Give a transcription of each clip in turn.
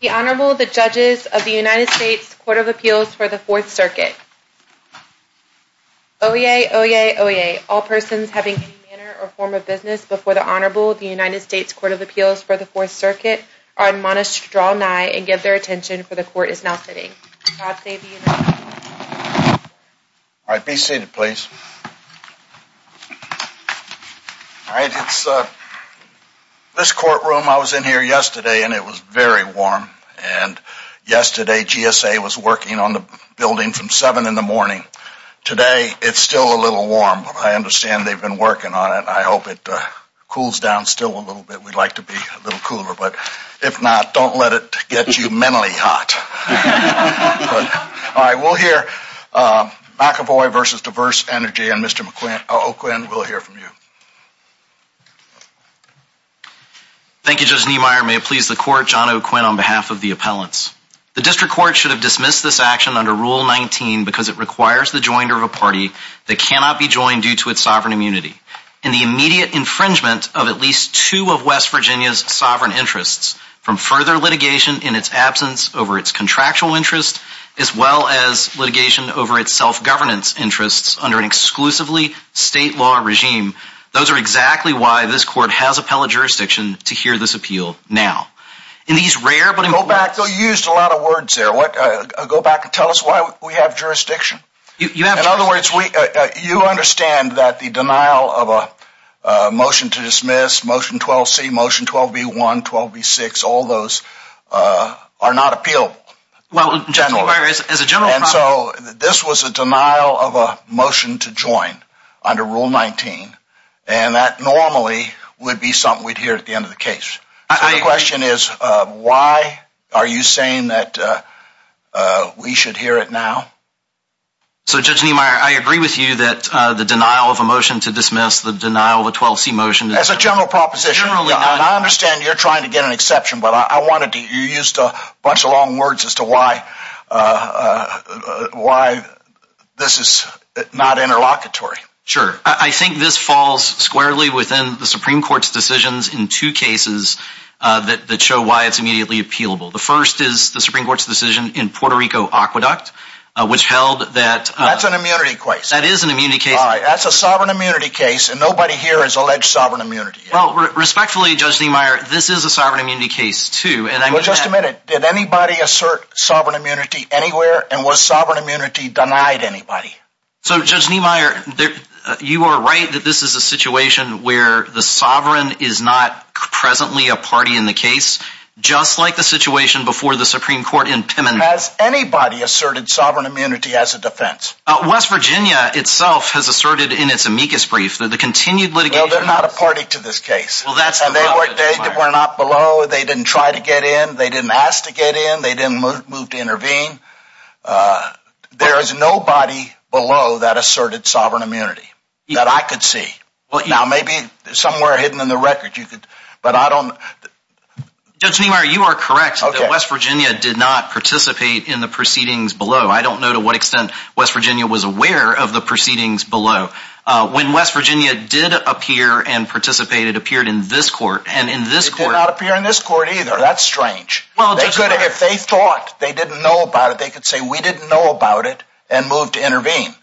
The Honorable, the Judges of the United States Court of Appeals for the Fourth Circuit. Oyez! Oyez! Oyez! All persons having any manner or form of business before the Honorable of the United States Court of Appeals for the Fourth Circuit are admonished to draw nigh and give their attention, for the Court is now sitting. God save the United States. All right, be seated please. All right, it's, uh, this courtroom, I was in here yesterday and it was very warm, and yesterday GSA was working on the building from 7 in the morning. Today, it's still a little warm. I understand they've been working on it. I hope it cools down still a little bit. We'd like to be a little cooler, but if not, don't let it get you mentally hot. All right, we'll hear McEvoy versus Diverse Energy, and Mr. O'Quinn will hear from you. Thank you, Judge Niemeyer. May it please the Court, John O'Quinn on behalf of the appellants. The District Court should have dismissed this action under Rule 19 because it requires the joiner of a party that cannot be joined due to its sovereign immunity. In the immediate infringement of at least two of West Virginia's sovereign interests, from further litigation in its absence over its contractual interest, as well as litigation over its self-governance interests under an exclusively state law regime, those are exactly why this Court has appellate jurisdiction to hear this appeal now. Go back. You used a lot of words there. Go back and tell us why we have jurisdiction. In other words, you understand that the denial of a motion to dismiss, Motion 12C, Motion 12B1, 12B6, all those are not appealable. Well, Judge Niemeyer, as a general problem... The question is, why are you saying that we should hear it now? So, Judge Niemeyer, I agree with you that the denial of a motion to dismiss, the denial of a 12C motion... As a general proposition, I understand you're trying to get an exception, but you used a bunch of long words as to why this is not interlocutory. Sure. I think this falls squarely within the Supreme Court's decisions in two cases that show why it's immediately appealable. The first is the Supreme Court's decision in Puerto Rico Aqueduct, which held that... That's an immunity case. That is an immunity case. That's a sovereign immunity case, and nobody here has alleged sovereign immunity. Well, respectfully, Judge Niemeyer, this is a sovereign immunity case, too, and I mean that... Well, just a minute. Did anybody assert sovereign immunity anywhere, and was sovereign immunity denied anybody? So, Judge Niemeyer, you are right that this is a situation where the sovereign is not presently a party in the case, just like the situation before the Supreme Court in Pimmin. Has anybody asserted sovereign immunity as a defense? West Virginia itself has asserted in its amicus brief that the continued litigation... Well, they're not a party to this case. Well, that's... And they were not below, they didn't try to get in, they didn't ask to get in, they didn't move to intervene. There is nobody below that asserted sovereign immunity that I could see. Now, maybe somewhere hidden in the record you could, but I don't... Judge Niemeyer, you are correct that West Virginia did not participate in the proceedings below. I don't know to what extent West Virginia was aware of the proceedings below. When West Virginia did appear and participated, it appeared in this court, and in this court... It did not appear in this court, either. That's strange. If they thought they didn't know about it, they could say, we didn't know about it, and move to intervene.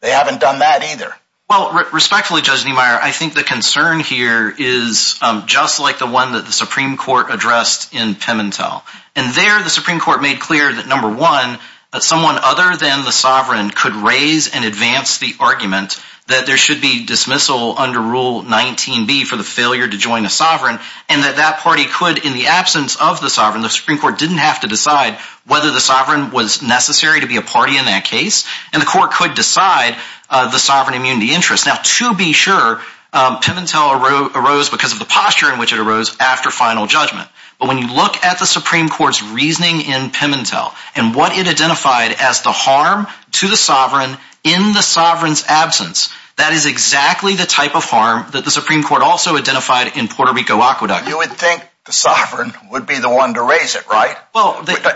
They haven't done that, either. Well, respectfully, Judge Niemeyer, I think the concern here is just like the one that the Supreme Court addressed in Pimentel. And there, the Supreme Court made clear that, number one, that someone other than the sovereign could raise and advance the argument that there should be dismissal under Rule 19b for the failure to join a sovereign, and that that party could, in the absence of the sovereign, the Supreme Court didn't have to decide whether the sovereign was necessary to be a party in that case, and the court could decide the sovereign immunity interest. Now, to be sure, Pimentel arose because of the posture in which it arose after final judgment. But when you look at the Supreme Court's reasoning in Pimentel, and what it identified as the harm to the sovereign in the sovereign's absence, that is exactly the type of harm that the Supreme Court also identified in Puerto Rico Aqueduct. You would think the sovereign would be the one to raise it, right?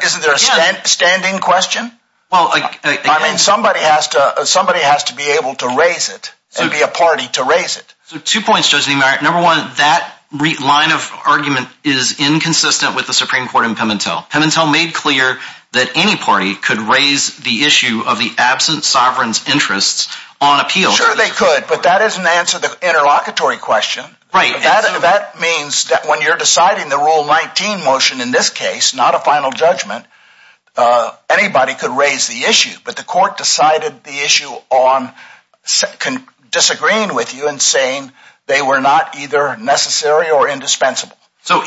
Isn't there a standing question? I mean, somebody has to be able to raise it, and be a party to raise it. Two points, Judge Niemeyer. Number one, that line of argument is inconsistent with the Supreme Court in Pimentel. Pimentel made clear that any party could raise the issue of the absent sovereign's interests on appeal. Sure they could, but that doesn't answer the interlocutory question. That means that when you're deciding the Rule 19 motion in this case, not a final judgment, anybody could raise the issue, but the court decided the issue on disagreeing with you and saying they were not either necessary or indispensable. So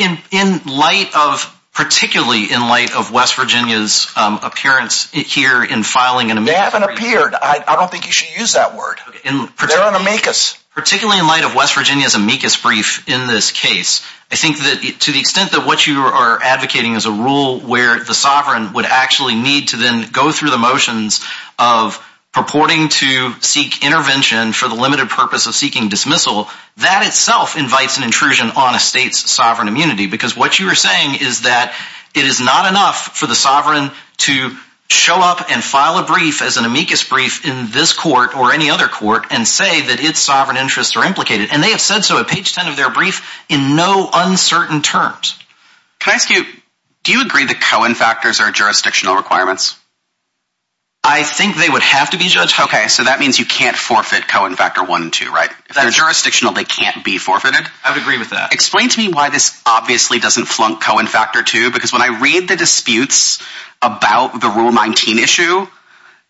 particularly in light of West Virginia's appearance here in filing an amicus brief— They haven't appeared. I don't think you should use that word. They're on amicus. Particularly in light of West Virginia's amicus brief in this case, I think that to the extent that what you are advocating is a rule where the sovereign would actually need to then go through the motions of purporting to seek intervention for the limited purpose of seeking dismissal, that itself invites an intrusion on a state's sovereign immunity. Because what you are saying is that it is not enough for the sovereign to show up and file a brief as an amicus brief in this court or any other court and say that its sovereign interests are implicated. And they have said so at page 10 of their brief in no uncertain terms. Can I ask you, do you agree that Cohen factors are jurisdictional requirements? I think they would have to be, Judge. Okay, so that means you can't forfeit Cohen factor 1 and 2, right? If they're jurisdictional, they can't be forfeited? I would agree with that. Explain to me why this obviously doesn't flunk Cohen factor 2, because when I read the disputes about the Rule 19 issue,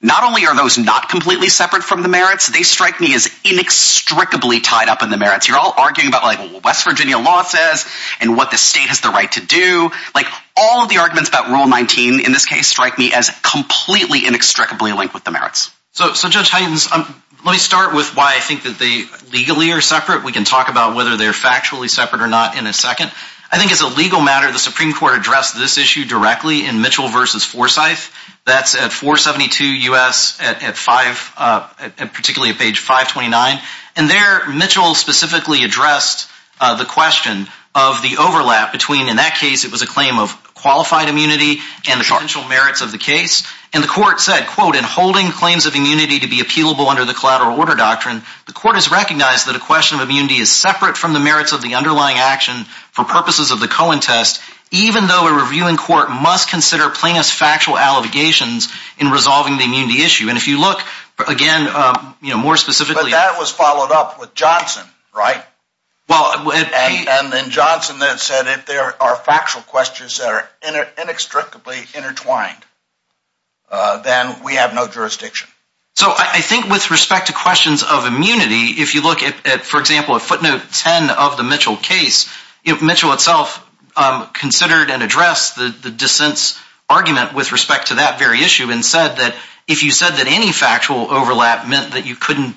not only are those not completely separate from the merits, they strike me as inextricably tied up in the merits. You're all arguing about what West Virginia law says and what the state has the right to do. All of the arguments about Rule 19 in this case strike me as completely inextricably linked with the merits. So, Judge Huygens, let me start with why I think that they legally are separate. We can talk about whether they're factually separate or not in a second. I think as a legal matter, the Supreme Court addressed this issue directly in Mitchell v. Forsyth. That's at 472 U.S., particularly at page 529. And there, Mitchell specifically addressed the question of the overlap between, in that case, it was a claim of qualified immunity and the potential merits of the case. And the court said, quote, in holding claims of immunity to be appealable under the collateral order doctrine, the court has recognized that a question of immunity is separate from the merits of the underlying action for purposes of the Cohen test, even though a reviewing court must consider plaintiff's factual allegations in resolving the immunity issue. And if you look, again, more specifically... But that was followed up with Johnson, right? And Johnson then said if there are factual questions that are inextricably intertwined, then we have no jurisdiction. So I think with respect to questions of immunity, if you look at, for example, a footnote 10 of the Mitchell case, Mitchell itself considered and addressed the dissent's argument with respect to that very issue and said that if you said that any factual overlap meant that you couldn't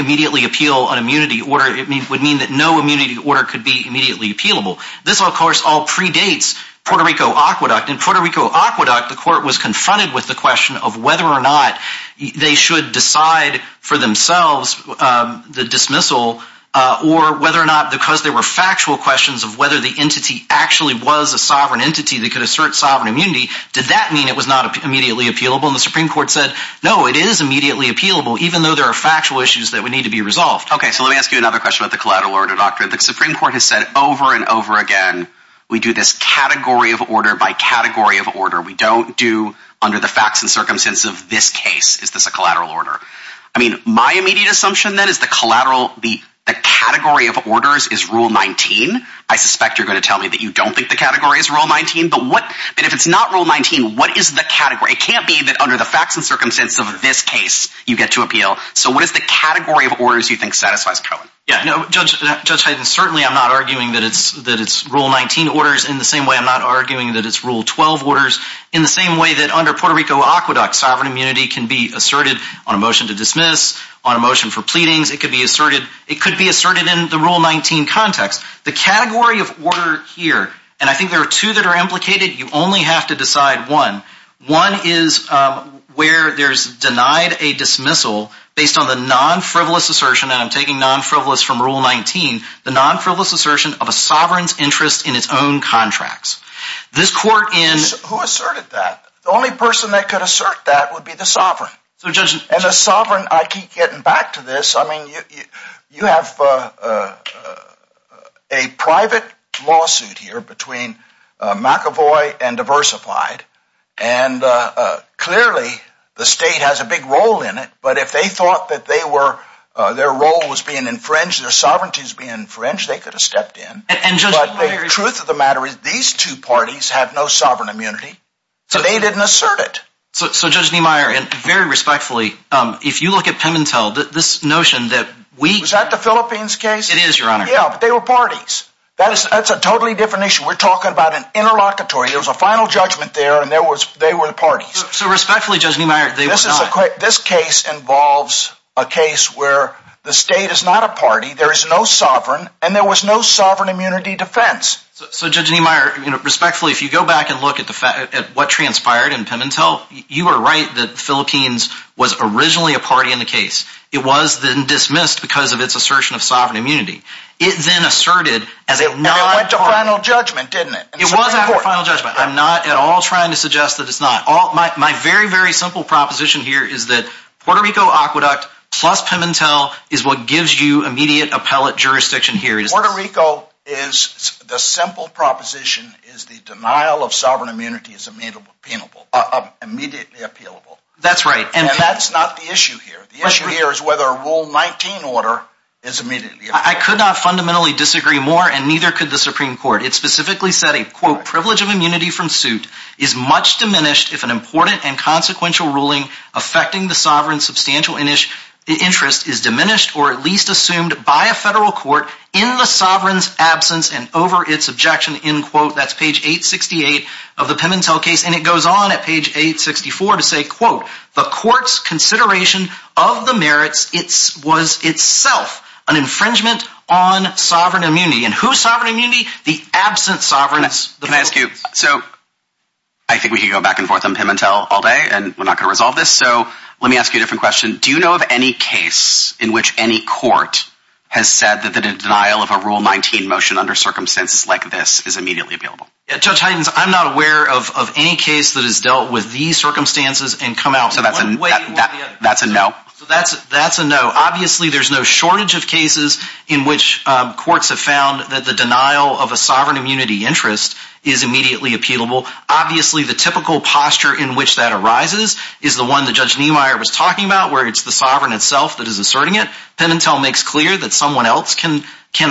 immediately appeal an immunity order, it would mean that no immunity order could be immediately appealable. This, of course, all predates Puerto Rico Aqueduct. In Puerto Rico Aqueduct, the court was confronted with the question of whether or not they should decide for themselves the dismissal or whether or not because there were factual questions of whether the entity actually was a sovereign entity that could assert sovereign immunity, did that mean it was not immediately appealable? And the Supreme Court said, no, it is immediately appealable, even though there are factual issues that would need to be resolved. Okay, so let me ask you another question about the collateral order doctrine. The Supreme Court has said over and over again, we do this category of order by category of order. We don't do under the facts and circumstances of this case, is this a collateral order? I mean, my immediate assumption then is the category of orders is Rule 19. I suspect you're going to tell me that you don't think the category is Rule 19, but if it's not Rule 19, what is the category? It can't be that under the facts and circumstances of this case, you get to appeal. So what is the category of orders you think satisfies Cohen? Judge Hayden, certainly I'm not arguing that it's Rule 19 orders in the same way I'm not arguing that it's Rule 12 orders in the same way that under Puerto Rico Aqueduct, sovereign immunity can be asserted on a motion to dismiss, on a motion for pleadings. It could be asserted in the Rule 19 context. The category of order here, and I think there are two that are implicated. You only have to decide one. One is where there's denied a dismissal based on the non-frivolous assertion, and I'm taking non-frivolous from Rule 19, the non-frivolous assertion of a sovereign's interest in its own contracts. Who asserted that? The only person that could assert that would be the sovereign. And the sovereign, I keep getting back to this. I mean, you have a private lawsuit here between McAvoy and Diversified, and clearly the state has a big role in it, but if they thought that their role was being infringed, their sovereignty was being infringed, they could have stepped in. But the truth of the matter is these two parties have no sovereign immunity, so they didn't assert it. So Judge Niemeyer, very respectfully, if you look at Pimentel, this notion that we— Was that the Philippines case? It is, Your Honor. Yeah, but they were parties. That's a totally different issue. We're talking about an interlocutory. There was a final judgment there, and they were the parties. So respectfully, Judge Niemeyer, they were not. This case involves a case where the state is not a party, there is no sovereign, and there was no sovereign immunity defense. So Judge Niemeyer, respectfully, if you go back and look at what transpired in Pimentel, you are right that the Philippines was originally a party in the case. It was then dismissed because of its assertion of sovereign immunity. It then asserted as a non— And it went to final judgment, didn't it? It was after final judgment. I'm not at all trying to suggest that it's not. My very, very simple proposition here is that Puerto Rico Aqueduct plus Pimentel is what gives you immediate appellate jurisdiction here. Puerto Rico is—the simple proposition is the denial of sovereign immunity is immediately appealable. That's right. And that's not the issue here. The issue here is whether a Rule 19 order is immediately appealable. I could not fundamentally disagree more, and neither could the Supreme Court. It specifically said a, quote, and over its objection, end quote. That's page 868 of the Pimentel case, and it goes on at page 864 to say, quote, Can I ask you—so I think we could go back and forth on Pimentel all day, and we're not going to resolve this, so let me ask you a different question. Do you know of any case in which any court has said that the denial of a Rule 19 motion under circumstances like this is immediately appealable? Judge Hytens, I'm not aware of any case that has dealt with these circumstances and come out one way or the other. So that's a no? That's a no. Obviously, there's no shortage of cases in which courts have found that the denial of a sovereign immunity interest is immediately appealable. Obviously, the typical posture in which that arises is the one that Judge Niemeyer was talking about, where it's the sovereign itself that is asserting it. Pimentel makes clear that someone else can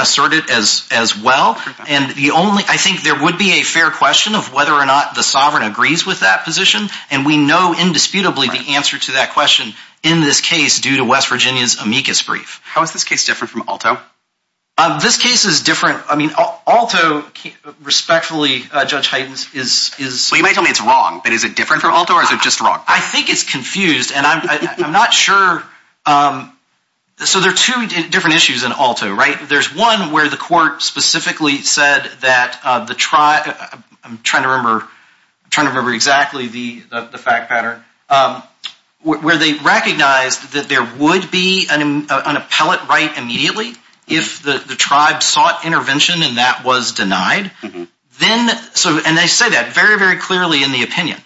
assert it as well. And the only—I think there would be a fair question of whether or not the sovereign agrees with that position, and we know indisputably the answer to that question in this case due to West Virginia's amicus brief. How is this case different from Aalto? This case is different—I mean, Aalto, respectfully, Judge Hytens, is— Well, you might tell me it's wrong, but is it different from Aalto, or is it just wrong? I think it's confused, and I'm not sure—so there are two different issues in Aalto, right? There's one where the court specifically said that the tribe—I'm trying to remember exactly the fact pattern— where they recognized that there would be an appellate right immediately if the tribe sought intervention, and that was denied. And they say that very, very clearly in the opinion.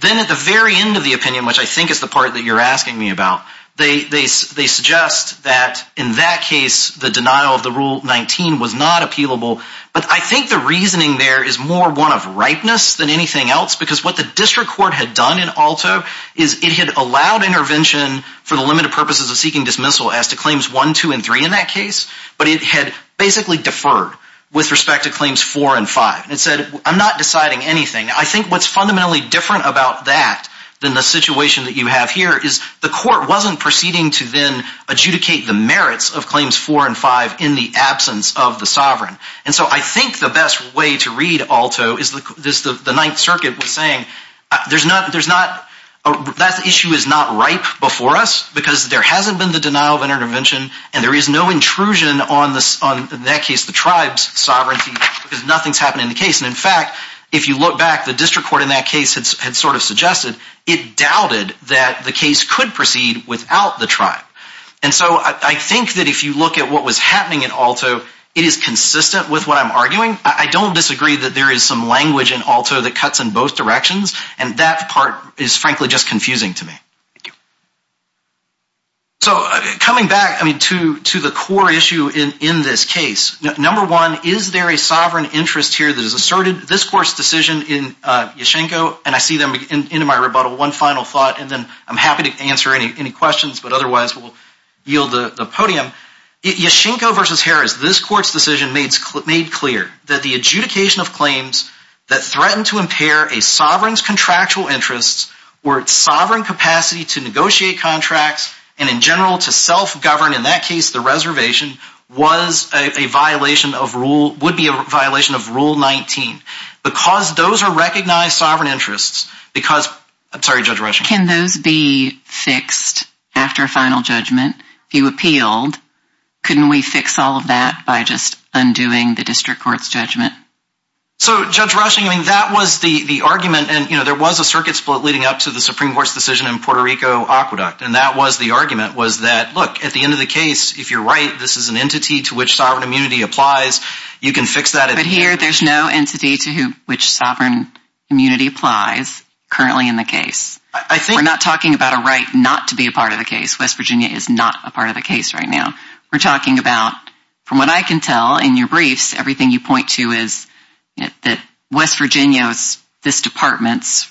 Then at the very end of the opinion, which I think is the part that you're asking me about, they suggest that in that case the denial of the Rule 19 was not appealable, but I think the reasoning there is more one of ripeness than anything else because what the district court had done in Aalto is it had allowed intervention for the limited purposes of seeking dismissal as to Claims 1, 2, and 3 in that case, but it had basically deferred with respect to Claims 4 and 5. It said, I'm not deciding anything. I think what's fundamentally different about that than the situation that you have here is the court wasn't proceeding to then adjudicate the merits of Claims 4 and 5 in the absence of the sovereign. And so I think the best way to read Aalto is the Ninth Circuit was saying that issue is not ripe before us because there hasn't been the denial of intervention, and there is no intrusion on, in that case, the tribe's sovereignty because nothing's happened in the case. And in fact, if you look back, the district court in that case had sort of suggested it doubted that the case could proceed without the tribe. And so I think that if you look at what was happening in Aalto, it is consistent with what I'm arguing. I don't disagree that there is some language in Aalto that cuts in both directions, and that part is frankly just confusing to me. So coming back to the core issue in this case, number one, is there a sovereign interest here that is asserted? This court's decision in Yashchenko, and I see them in my rebuttal, one final thought, and then I'm happy to answer any questions, but otherwise we'll yield the podium. Yashchenko v. Harris, this court's decision made clear that the adjudication of claims that threatened to impair a sovereign's contractual interests or its sovereign capacity to negotiate contracts and in general to self-govern, in that case the reservation, would be a violation of Rule 19. Because those are recognized sovereign interests, because, I'm sorry, Judge Rushing. Can those be fixed after a final judgment? If you appealed, couldn't we fix all of that by just undoing the district court's judgment? So, Judge Rushing, that was the argument, and there was a circuit split leading up to the Supreme Court's decision in Puerto Rico Aqueduct, and that was the argument was that, look, at the end of the case, if you're right, this is an entity to which sovereign immunity applies, you can fix that. But here there's no entity to which sovereign immunity applies currently in the case. We're not talking about a right not to be a part of the case. West Virginia is not a part of the case right now. We're talking about, from what I can tell in your briefs, everything you point to is that West Virginia's, this department's,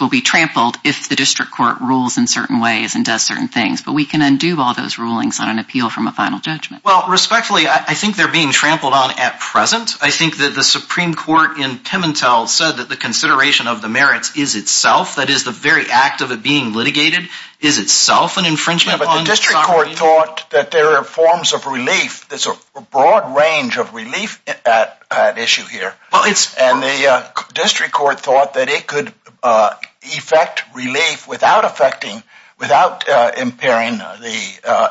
will be trampled if the district court rules in certain ways and does certain things. But we can undo all those rulings on an appeal from a final judgment. Well, respectfully, I think they're being trampled on at present. I think that the Supreme Court in Pimentel said that the consideration of the merits is itself, that is the very act of it being litigated, is itself an infringement on sovereign immunity. Yeah, but the district court thought that there are forms of relief. There's a broad range of relief at issue here. And the district court thought that it could effect relief without effecting, without impairing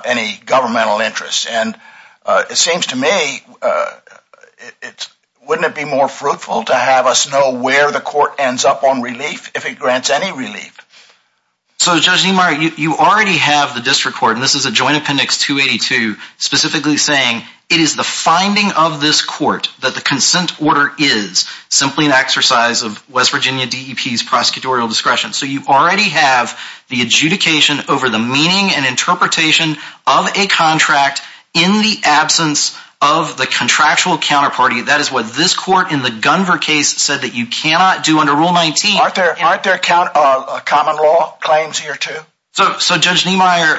any governmental interest. And it seems to me, wouldn't it be more fruitful to have us know where the court ends up on relief, if it grants any relief? So, Judge Niemeyer, you already have the district court, and this is a joint appendix 282, specifically saying, it is the finding of this court that the consent order is simply an exercise of West Virginia DEP's prosecutorial discretion. So you already have the adjudication over the meaning and interpretation of a contract in the absence of the contractual counterparty. That is what this court in the Gunver case said that you cannot do under Rule 19. Aren't there common law claims here, too? So, Judge Niemeyer,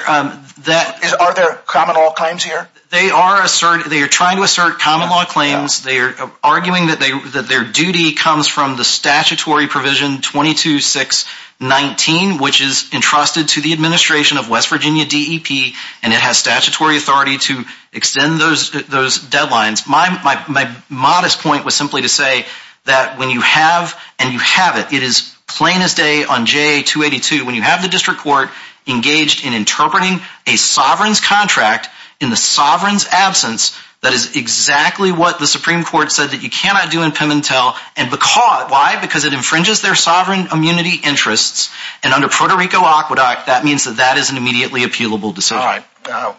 that... Are there common law claims here? They are trying to assert common law claims. They are arguing that their duty comes from the statutory provision 22619, which is entrusted to the administration of West Virginia DEP, and it has statutory authority to extend those deadlines. My modest point was simply to say that when you have, and you have it, it is plain as day on J282, when you have the district court engaged in interpreting a sovereign's contract in the sovereign's absence, that is exactly what the Supreme Court said that you cannot do in Pimentel, and because, why? Because it infringes their sovereign immunity interests, and under Puerto Rico Aqueduct, that means that that is an immediately appealable decision. All right.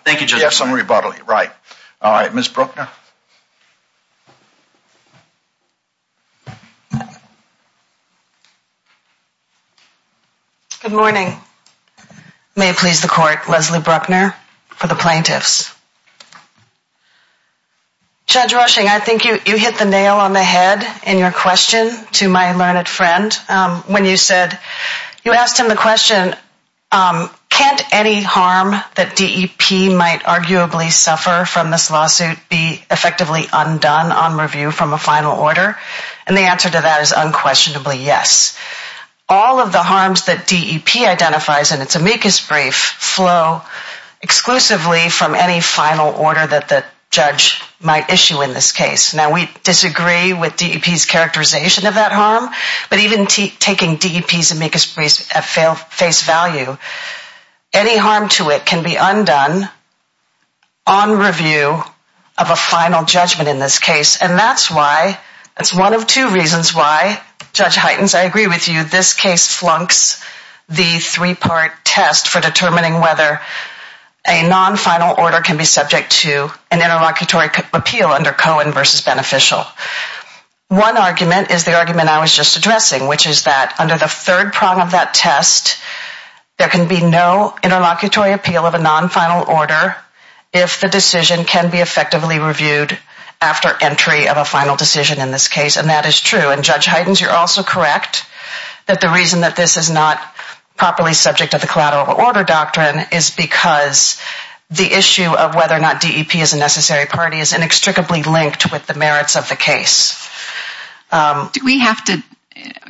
Thank you, Judge Niemeyer. You have some rebuttal. Right. All right, Ms. Bruckner. Good morning. May it please the court, Leslie Bruckner for the plaintiffs. Judge Rushing, I think you hit the nail on the head in your question to my learned friend when you said, you asked him the question, can't any harm that DEP might arguably suffer from this lawsuit be effectively undone on review from a final order? And the answer to that is unquestionably yes. All of the harms that DEP identifies in its amicus brief flow exclusively from any final order that the judge might issue in this case. Now, we disagree with DEP's characterization of that harm, but even taking DEP's amicus brief at face value, any harm to it can be undone on review of a final judgment in this case, and that's one of two reasons why, Judge Heitens, I agree with you, this case flunks the three-part test for determining whether a non-final order can be subject to an interlocutory appeal under Cohen v. Beneficial. One argument is the argument I was just addressing, which is that under the third prong of that test, there can be no interlocutory appeal of a non-final order if the decision can be effectively reviewed after entry of a final decision in this case, and that is true, and Judge Heitens, you're also correct, that the reason that this is not properly subject to the collateral order doctrine is because the issue of whether or not DEP is a necessary party is inextricably linked with the merits of the case. Do we have to,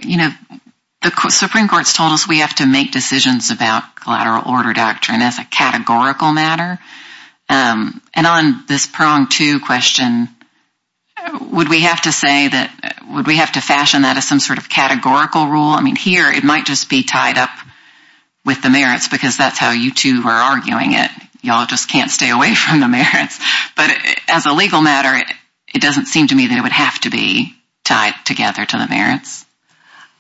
you know, the Supreme Court's told us we have to make decisions about collateral order doctrine as a categorical matter, and on this prong two question, would we have to say that, would we have to fashion that as some sort of categorical rule? I mean, here it might just be tied up with the merits because that's how you two were arguing it. You all just can't stay away from the merits, but as a legal matter, it doesn't seem to me that it would have to be tied together to the merits.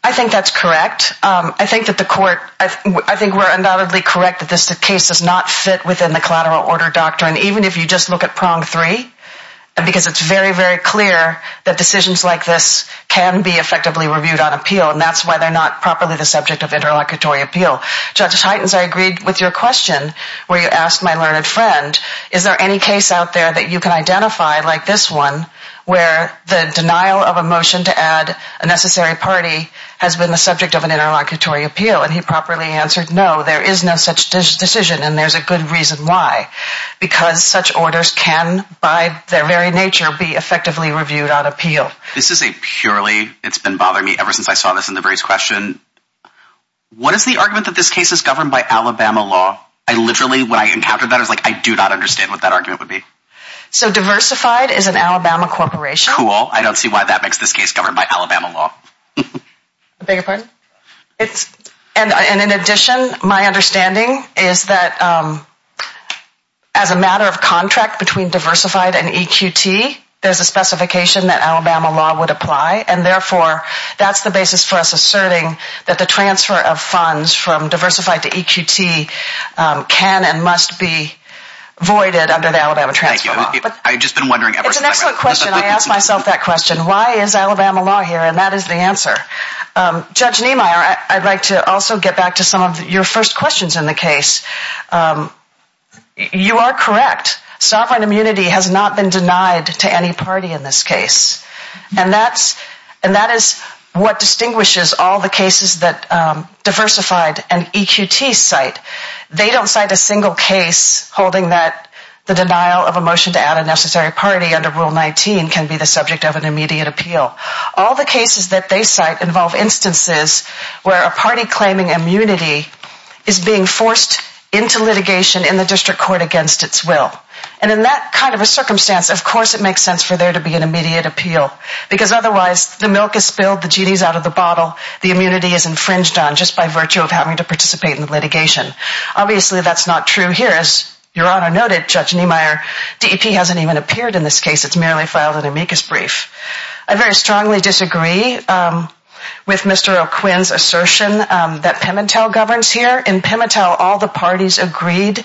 I think that's correct. I think that the court, I think we're undoubtedly correct that this case does not fit within the collateral order doctrine, even if you just look at prong three, because it's very, very clear that decisions like this can be effectively reviewed on appeal, and that's why they're not properly the subject of interlocutory appeal. Judge Heitens, I agreed with your question where you asked my learned friend, is there any case out there that you can identify like this one where the denial of a motion to add a necessary party has been the subject of an interlocutory appeal, and he properly answered, no, there is no such decision, and there's a good reason why, because such orders can, by their very nature, be effectively reviewed on appeal. This is a purely, it's been bothering me ever since I saw this in the various questions, what is the argument that this case is governed by Alabama law? I literally, when I encountered that, I was like, I do not understand what that argument would be. So diversified is an Alabama corporation. That's cool. I don't see why that makes this case governed by Alabama law. I beg your pardon? And in addition, my understanding is that as a matter of contract between diversified and EQT, there's a specification that Alabama law would apply, and therefore, that's the basis for us asserting that the transfer of funds from diversified to EQT can and must be voided under the Alabama transfer law. It's an excellent question. I asked myself that question. Why is Alabama law here, and that is the answer. Judge Niemeyer, I'd like to also get back to some of your first questions in the case. You are correct. Sovereign immunity has not been denied to any party in this case, and that is what distinguishes all the cases that diversified and EQT cite. They don't cite a single case holding that the denial of a motion to add a necessary party under Rule 19 can be the subject of an immediate appeal. All the cases that they cite involve instances where a party claiming immunity is being forced into litigation in the district court against its will. And in that kind of a circumstance, of course it makes sense for there to be an immediate appeal, because otherwise the milk is spilled, the genie is out of the bottle, the immunity is infringed on just by virtue of having to participate in the litigation. Obviously that's not true here. As Your Honor noted, Judge Niemeyer, DEP hasn't even appeared in this case. It's merely filed an amicus brief. I very strongly disagree with Mr. O'Quinn's assertion that Pemintel governs here. In Pemintel, all the parties agreed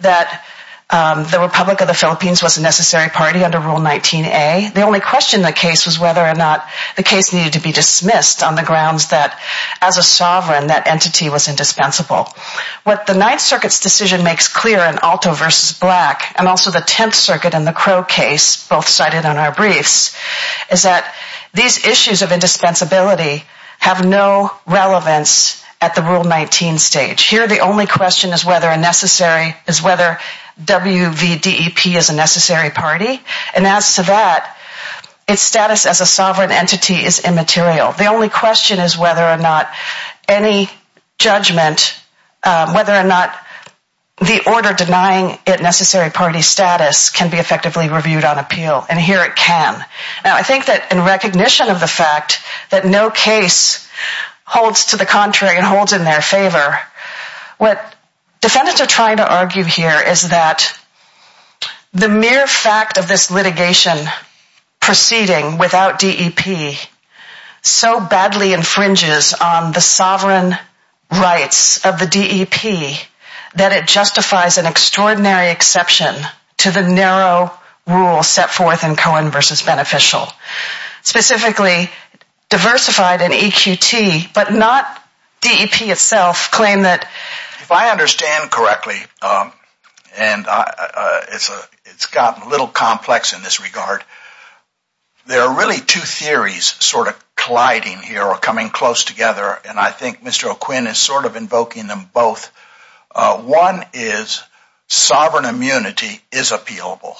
that the Republic of the Philippines was a necessary party under Rule 19A. The only question in the case was whether or not the case needed to be dismissed on the grounds that, as a sovereign, that entity was indispensable. What the Ninth Circuit's decision makes clear in Alto v. Black, and also the Tenth Circuit and the Crow case, both cited on our briefs, is that these issues of indispensability have no relevance at the Rule 19 stage. Here the only question is whether WVDEP is a necessary party. And as to that, its status as a sovereign entity is immaterial. The only question is whether or not any judgment, whether or not the order denying it necessary party status can be effectively reviewed on appeal. And here it can. Now I think that in recognition of the fact that no case holds to the contrary and holds in their favor, what defendants are trying to argue here is that the mere fact of this litigation proceeding without DEP so badly infringes on the sovereign rights of the DEP that it justifies an extraordinary exception to the narrow rule set forth in Cohen v. Beneficial. Specifically, diversified in EQT, but not DEP itself, claim that... If I understand correctly, and it's gotten a little complex in this regard, there are really two theories sort of colliding here or coming close together, and I think Mr. O'Quinn is sort of invoking them both. One is sovereign immunity is appealable,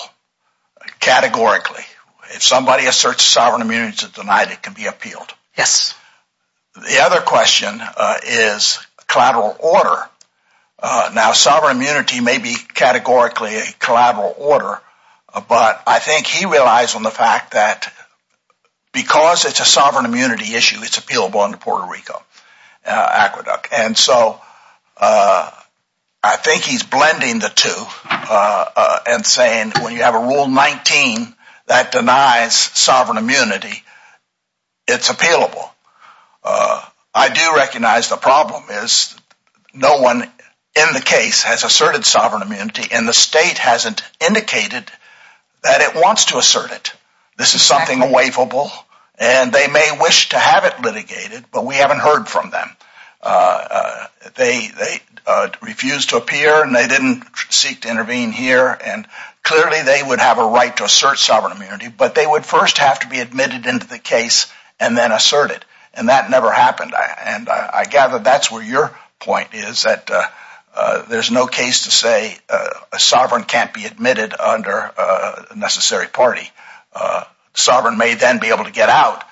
categorically. If somebody asserts sovereign immunity to deny it, it can be appealed. The other question is collateral order. Now sovereign immunity may be categorically a collateral order, but I think he relies on the fact that because it's a sovereign immunity issue, it's appealable under Puerto Rico. And so I think he's blending the two and saying when you have a Rule 19 that denies sovereign immunity, it's appealable. I do recognize the problem is no one in the case has asserted sovereign immunity, and the state hasn't indicated that it wants to assert it. This is something unwaverable, and they may wish to have it litigated, but we haven't heard from them. They refused to appear, and they didn't seek to intervene here, and clearly they would have a right to assert sovereign immunity, but they would first have to be admitted into the case and then assert it, and that never happened. And I gather that's where your point is, that there's no case to say a sovereign can't be admitted under a necessary party. Sovereign may then be able to get out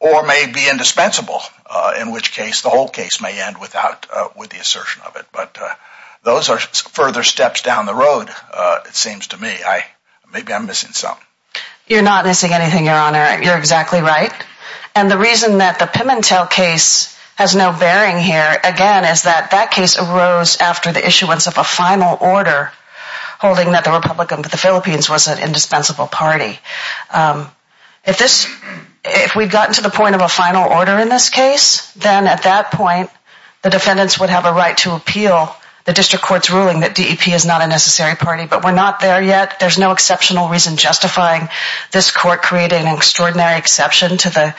or may be indispensable, in which case the whole case may end with the assertion of it. But those are further steps down the road, it seems to me. Maybe I'm missing something. You're not missing anything, Your Honor. You're exactly right. And the reason that the Pimentel case has no bearing here, again, is that that case arose after the issuance of a final order holding that the Republicans of the Philippines was an indispensable party. If we've gotten to the point of a final order in this case, then at that point the defendants would have a right to appeal the district court's ruling that DEP is not a necessary party. But we're not there yet. There's no exceptional reason justifying this court creating an extraordinary exception to the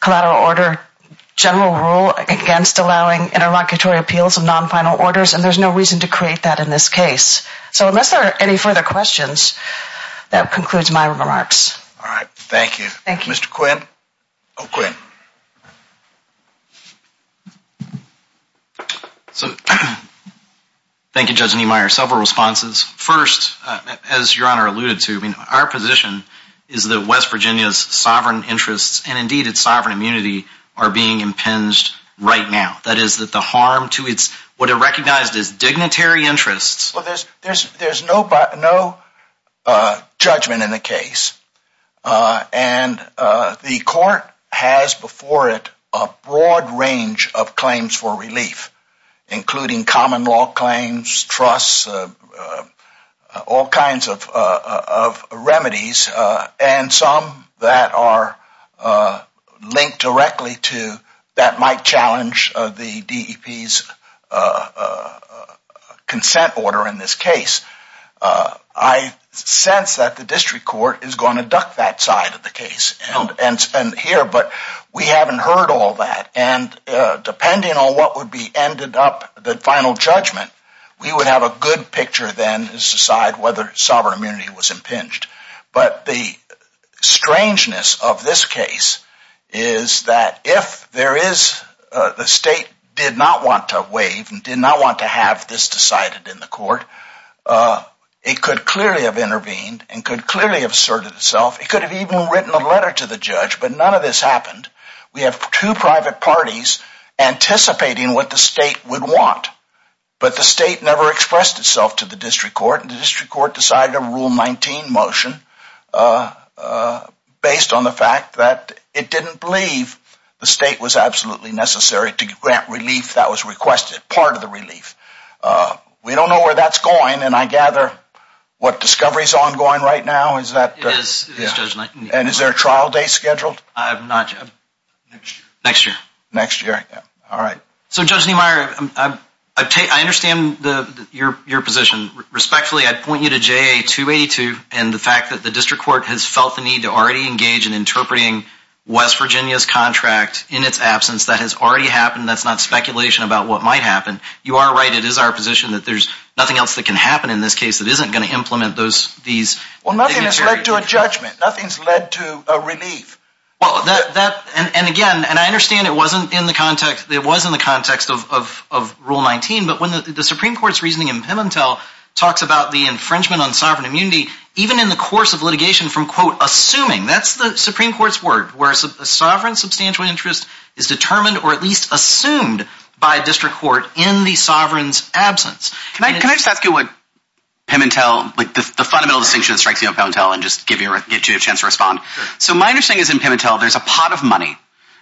collateral order general rule against allowing interlocutory appeals of non-final orders, and there's no reason to create that in this case. So unless there are any further questions, that concludes my remarks. All right. Thank you. Thank you. Mr. Quinn. Oh, Quinn. Thank you, Judge Niemeyer. Several responses. First, as Your Honor alluded to, our position is that West Virginia's sovereign interests and, indeed, its sovereign immunity are being impinged right now. That is, that the harm to its what are recognized as dignitary interests Well, there's no judgment in the case. And the court has before it a broad range of claims for relief, including common law claims, trusts, all kinds of remedies, and some that are linked directly to that might challenge the DEP's consent order in this case. I sense that the district court is going to duck that side of the case here, but we haven't heard all that. And depending on what would be ended up the final judgment, we would have a good picture then to decide whether sovereign immunity was impinged. But the strangeness of this case is that if there is the state did not want to waive and did not want to have this decided in the court, it could clearly have intervened and could clearly have asserted itself. It could have even written a letter to the judge, but none of this happened. We have two private parties anticipating what the state would want, but the state never expressed itself to the district court, and the district court decided a Rule 19 motion based on the fact that it didn't believe the state was absolutely necessary to grant relief that was requested, part of the relief. We don't know where that's going, and I gather what discovery is ongoing right now. It is, Judge Neimeyer. And is there a trial date scheduled? Next year. Next year. All right. So, Judge Neimeyer, I understand your position. Respectfully, I'd point you to JA 282 and the fact that the district court has felt the need to already engage in interpreting West Virginia's contract in its absence. That has already happened. That's not speculation about what might happen. You are right. It is our position that there's nothing else that can happen in this case that isn't going to implement these dignitaries. Well, nothing has led to a judgment. Nothing's led to a relief. And, again, I understand it wasn't in the context of Rule 19, but when the Supreme Court's reasoning in Pimentel talks about the infringement on sovereign immunity, even in the course of litigation from, quote, assuming, that's the Supreme Court's word, where a sovereign substantial interest is determined or at least assumed by a district court in the sovereign's absence. Can I just ask you what Pimentel, like the fundamental distinction that strikes you about Pimentel and just give you a chance to respond. So my understanding is in Pimentel there's a pot of money,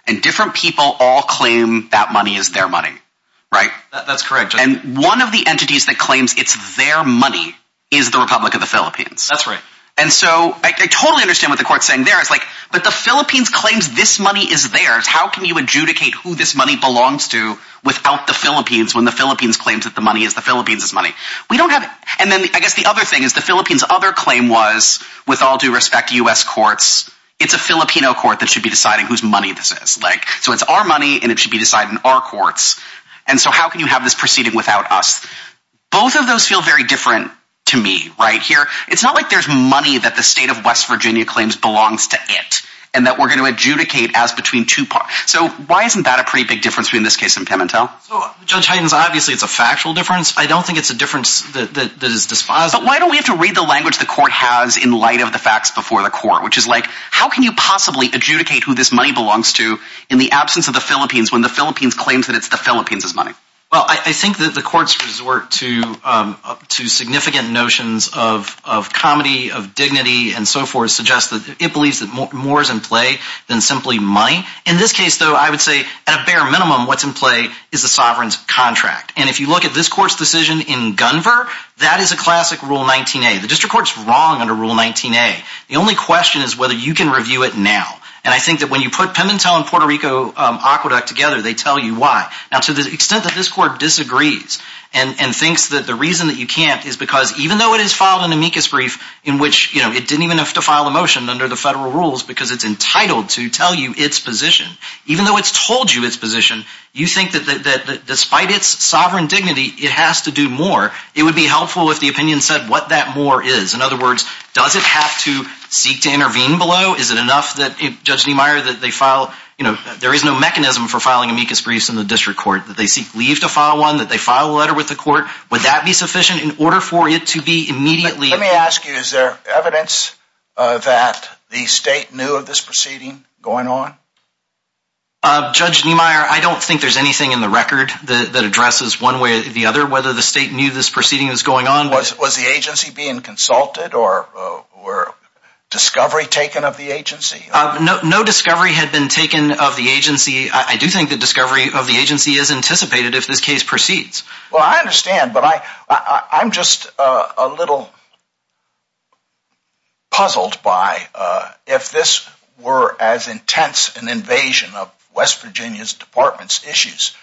and different people all claim that money is their money, right? That's correct. And one of the entities that claims it's their money is the Republic of the Philippines. That's right. And so I totally understand what the court's saying there. It's like, but the Philippines claims this money is theirs. How can you adjudicate who this money belongs to without the Philippines when the Philippines claims that the money is the Philippines' money? We don't have it. And then I guess the other thing is the Philippines' other claim was, with all due respect to U.S. courts, it's a Filipino court that should be deciding whose money this is. So it's our money, and it should be decided in our courts. And so how can you have this proceeding without us? Both of those feel very different to me right here. It's not like there's money that the state of West Virginia claims belongs to it, and that we're going to adjudicate as between two parties. So why isn't that a pretty big difference between this case and Pimentel? So, Judge Hayden, obviously it's a factual difference. I don't think it's a difference that is dispositive. But why don't we have to read the language the court has in light of the facts before the court, which is like, how can you possibly adjudicate who this money belongs to in the absence of the Philippines, when the Philippines claims that it's the Philippines' money? Well, I think that the courts' resort to significant notions of comedy, of dignity, and so forth, suggests that it believes that more is in play than simply money. In this case, though, I would say, at a bare minimum, what's in play is the sovereign's contract. And if you look at this court's decision in Gunvor, that is a classic Rule 19a. The district court's wrong under Rule 19a. The only question is whether you can review it now. And I think that when you put Pimentel and Puerto Rico Aqueduct together, they tell you why. Now, to the extent that this court disagrees and thinks that the reason that you can't is because even though it has filed an amicus brief in which it didn't even have to file a motion under the federal rules because it's entitled to tell you its position, even though it's told you its position, you think that despite its sovereign dignity, it has to do more. It would be helpful if the opinion said what that more is. In other words, does it have to seek to intervene below? Is it enough that, Judge Niemeyer, that they file, you know, there is no mechanism for filing amicus briefs in the district court, that they seek leave to file one, that they file a letter with the court. Would that be sufficient in order for it to be immediately Let me ask you, is there evidence that the state knew of this proceeding going on? Judge Niemeyer, I don't think there's anything in the record that addresses one way or the other whether the state knew this proceeding was going on. Was the agency being consulted or was discovery taken of the agency? No discovery had been taken of the agency. I do think the discovery of the agency is anticipated if this case proceeds. Well, I understand, but I'm just a little puzzled by, if this were as intense an invasion of West Virginia's Department's issues,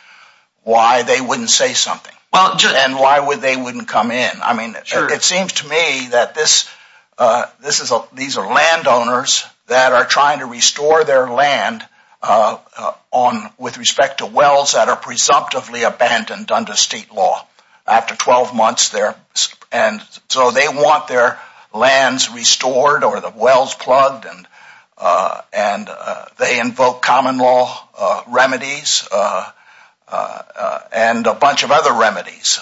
why they wouldn't say something? And why they wouldn't come in? I mean, it seems to me that these are landowners that are trying to restore their land with respect to wells that are presumptively abandoned under state law. After 12 months, they're... And so they want their lands restored or the wells plugged and they invoke common law remedies and a bunch of other remedies.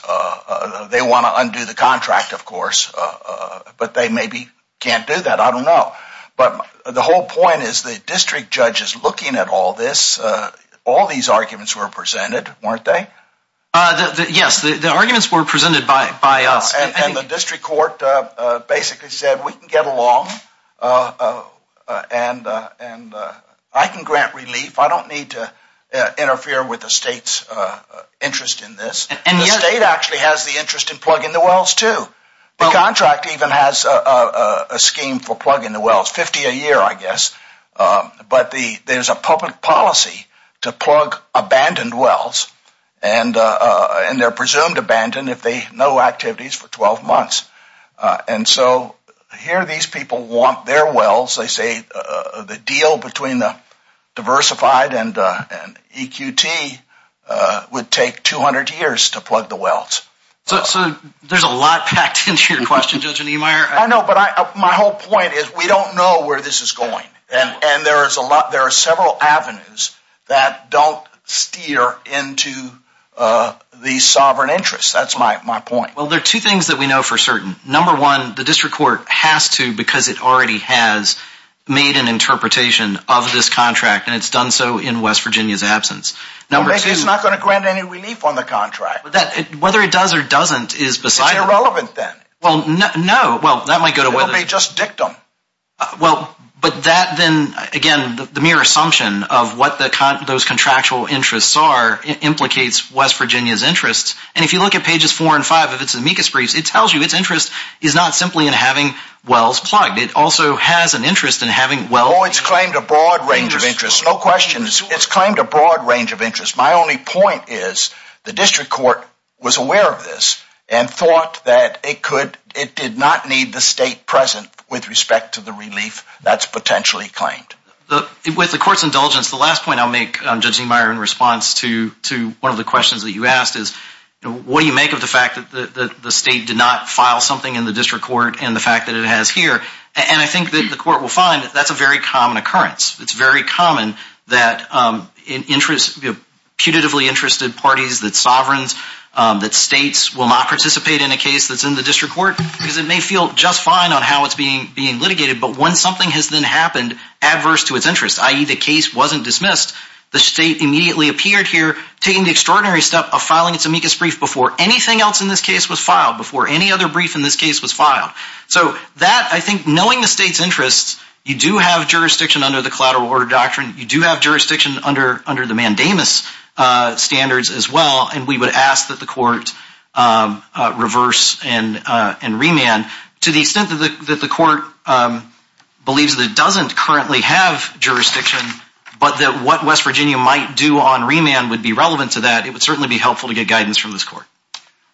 They want to undo the contract, of course, but they maybe can't do that. I don't know. But the whole point is the district judge is looking at all this. All these arguments were presented, weren't they? Yes, the arguments were presented by us. And the district court basically said, we can get along and I can grant relief. I don't need to interfere with the state's interest in this. And the state actually has the interest in plugging the wells too. The contract even has a scheme for plugging the wells, 50 a year, I guess. But there's a public policy to plug abandoned wells and they're presumed abandoned if they have no activities for 12 months. And so here these people want their wells. They say the deal between the diversified and EQT would take 200 years to plug the wells. So there's a lot packed into your question, Judge Niemeyer. I know, but my whole point is we don't know where this is going. And there are several avenues that don't steer into the sovereign interest. That's my point. Well, there are two things that we know for certain. Number one, the district court has to because it already has made an interpretation of this contract and it's done so in West Virginia's absence. It's not going to grant any relief on the contract. Whether it does or doesn't is beside the point. It's irrelevant then. Well, no. It would be just dictum. Well, but that then, again, the mere assumption of what those contractual interests are implicates West Virginia's interests. And if you look at pages four and five of its amicus briefs, it tells you its interest is not simply in having wells plugged. It also has an interest in having wells. Oh, it's claimed a broad range of interests. No questions. It's claimed a broad range of interests. My only point is the district court was aware of this and thought that it did not need the state present with respect to the relief that's potentially claimed. With the court's indulgence, the last point I'll make, Judge Zehmeyer, in response to one of the questions that you asked is, what do you make of the fact that the state did not file something in the district court and the fact that it has here? And I think that the court will find that that's a very common occurrence. It's very common that putatively interested parties, that sovereigns, that states will not participate in a case that's in the district court because it may feel just fine on how it's being litigated. But when something has then happened adverse to its interest, i.e. the case wasn't dismissed, the state immediately appeared here taking the extraordinary step of filing its amicus brief before anything else in this case was filed, before any other brief in this case was filed. So that, I think, knowing the state's interests, you do have jurisdiction under the collateral order doctrine, you do have jurisdiction under the mandamus standards as well, and we would ask that the court reverse and remand. To the extent that the court believes that it doesn't currently have jurisdiction, but that what West Virginia might do on remand would be relevant to that, it would certainly be helpful to get guidance from this court.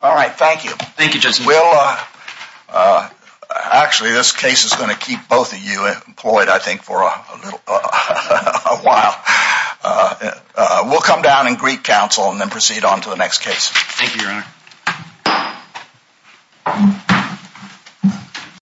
All right. Thank you. Thank you, Judge Zehmeyer. Actually, this case is going to keep both of you employed, I think, for a little while. We'll come down and greet counsel and then proceed on to the next case.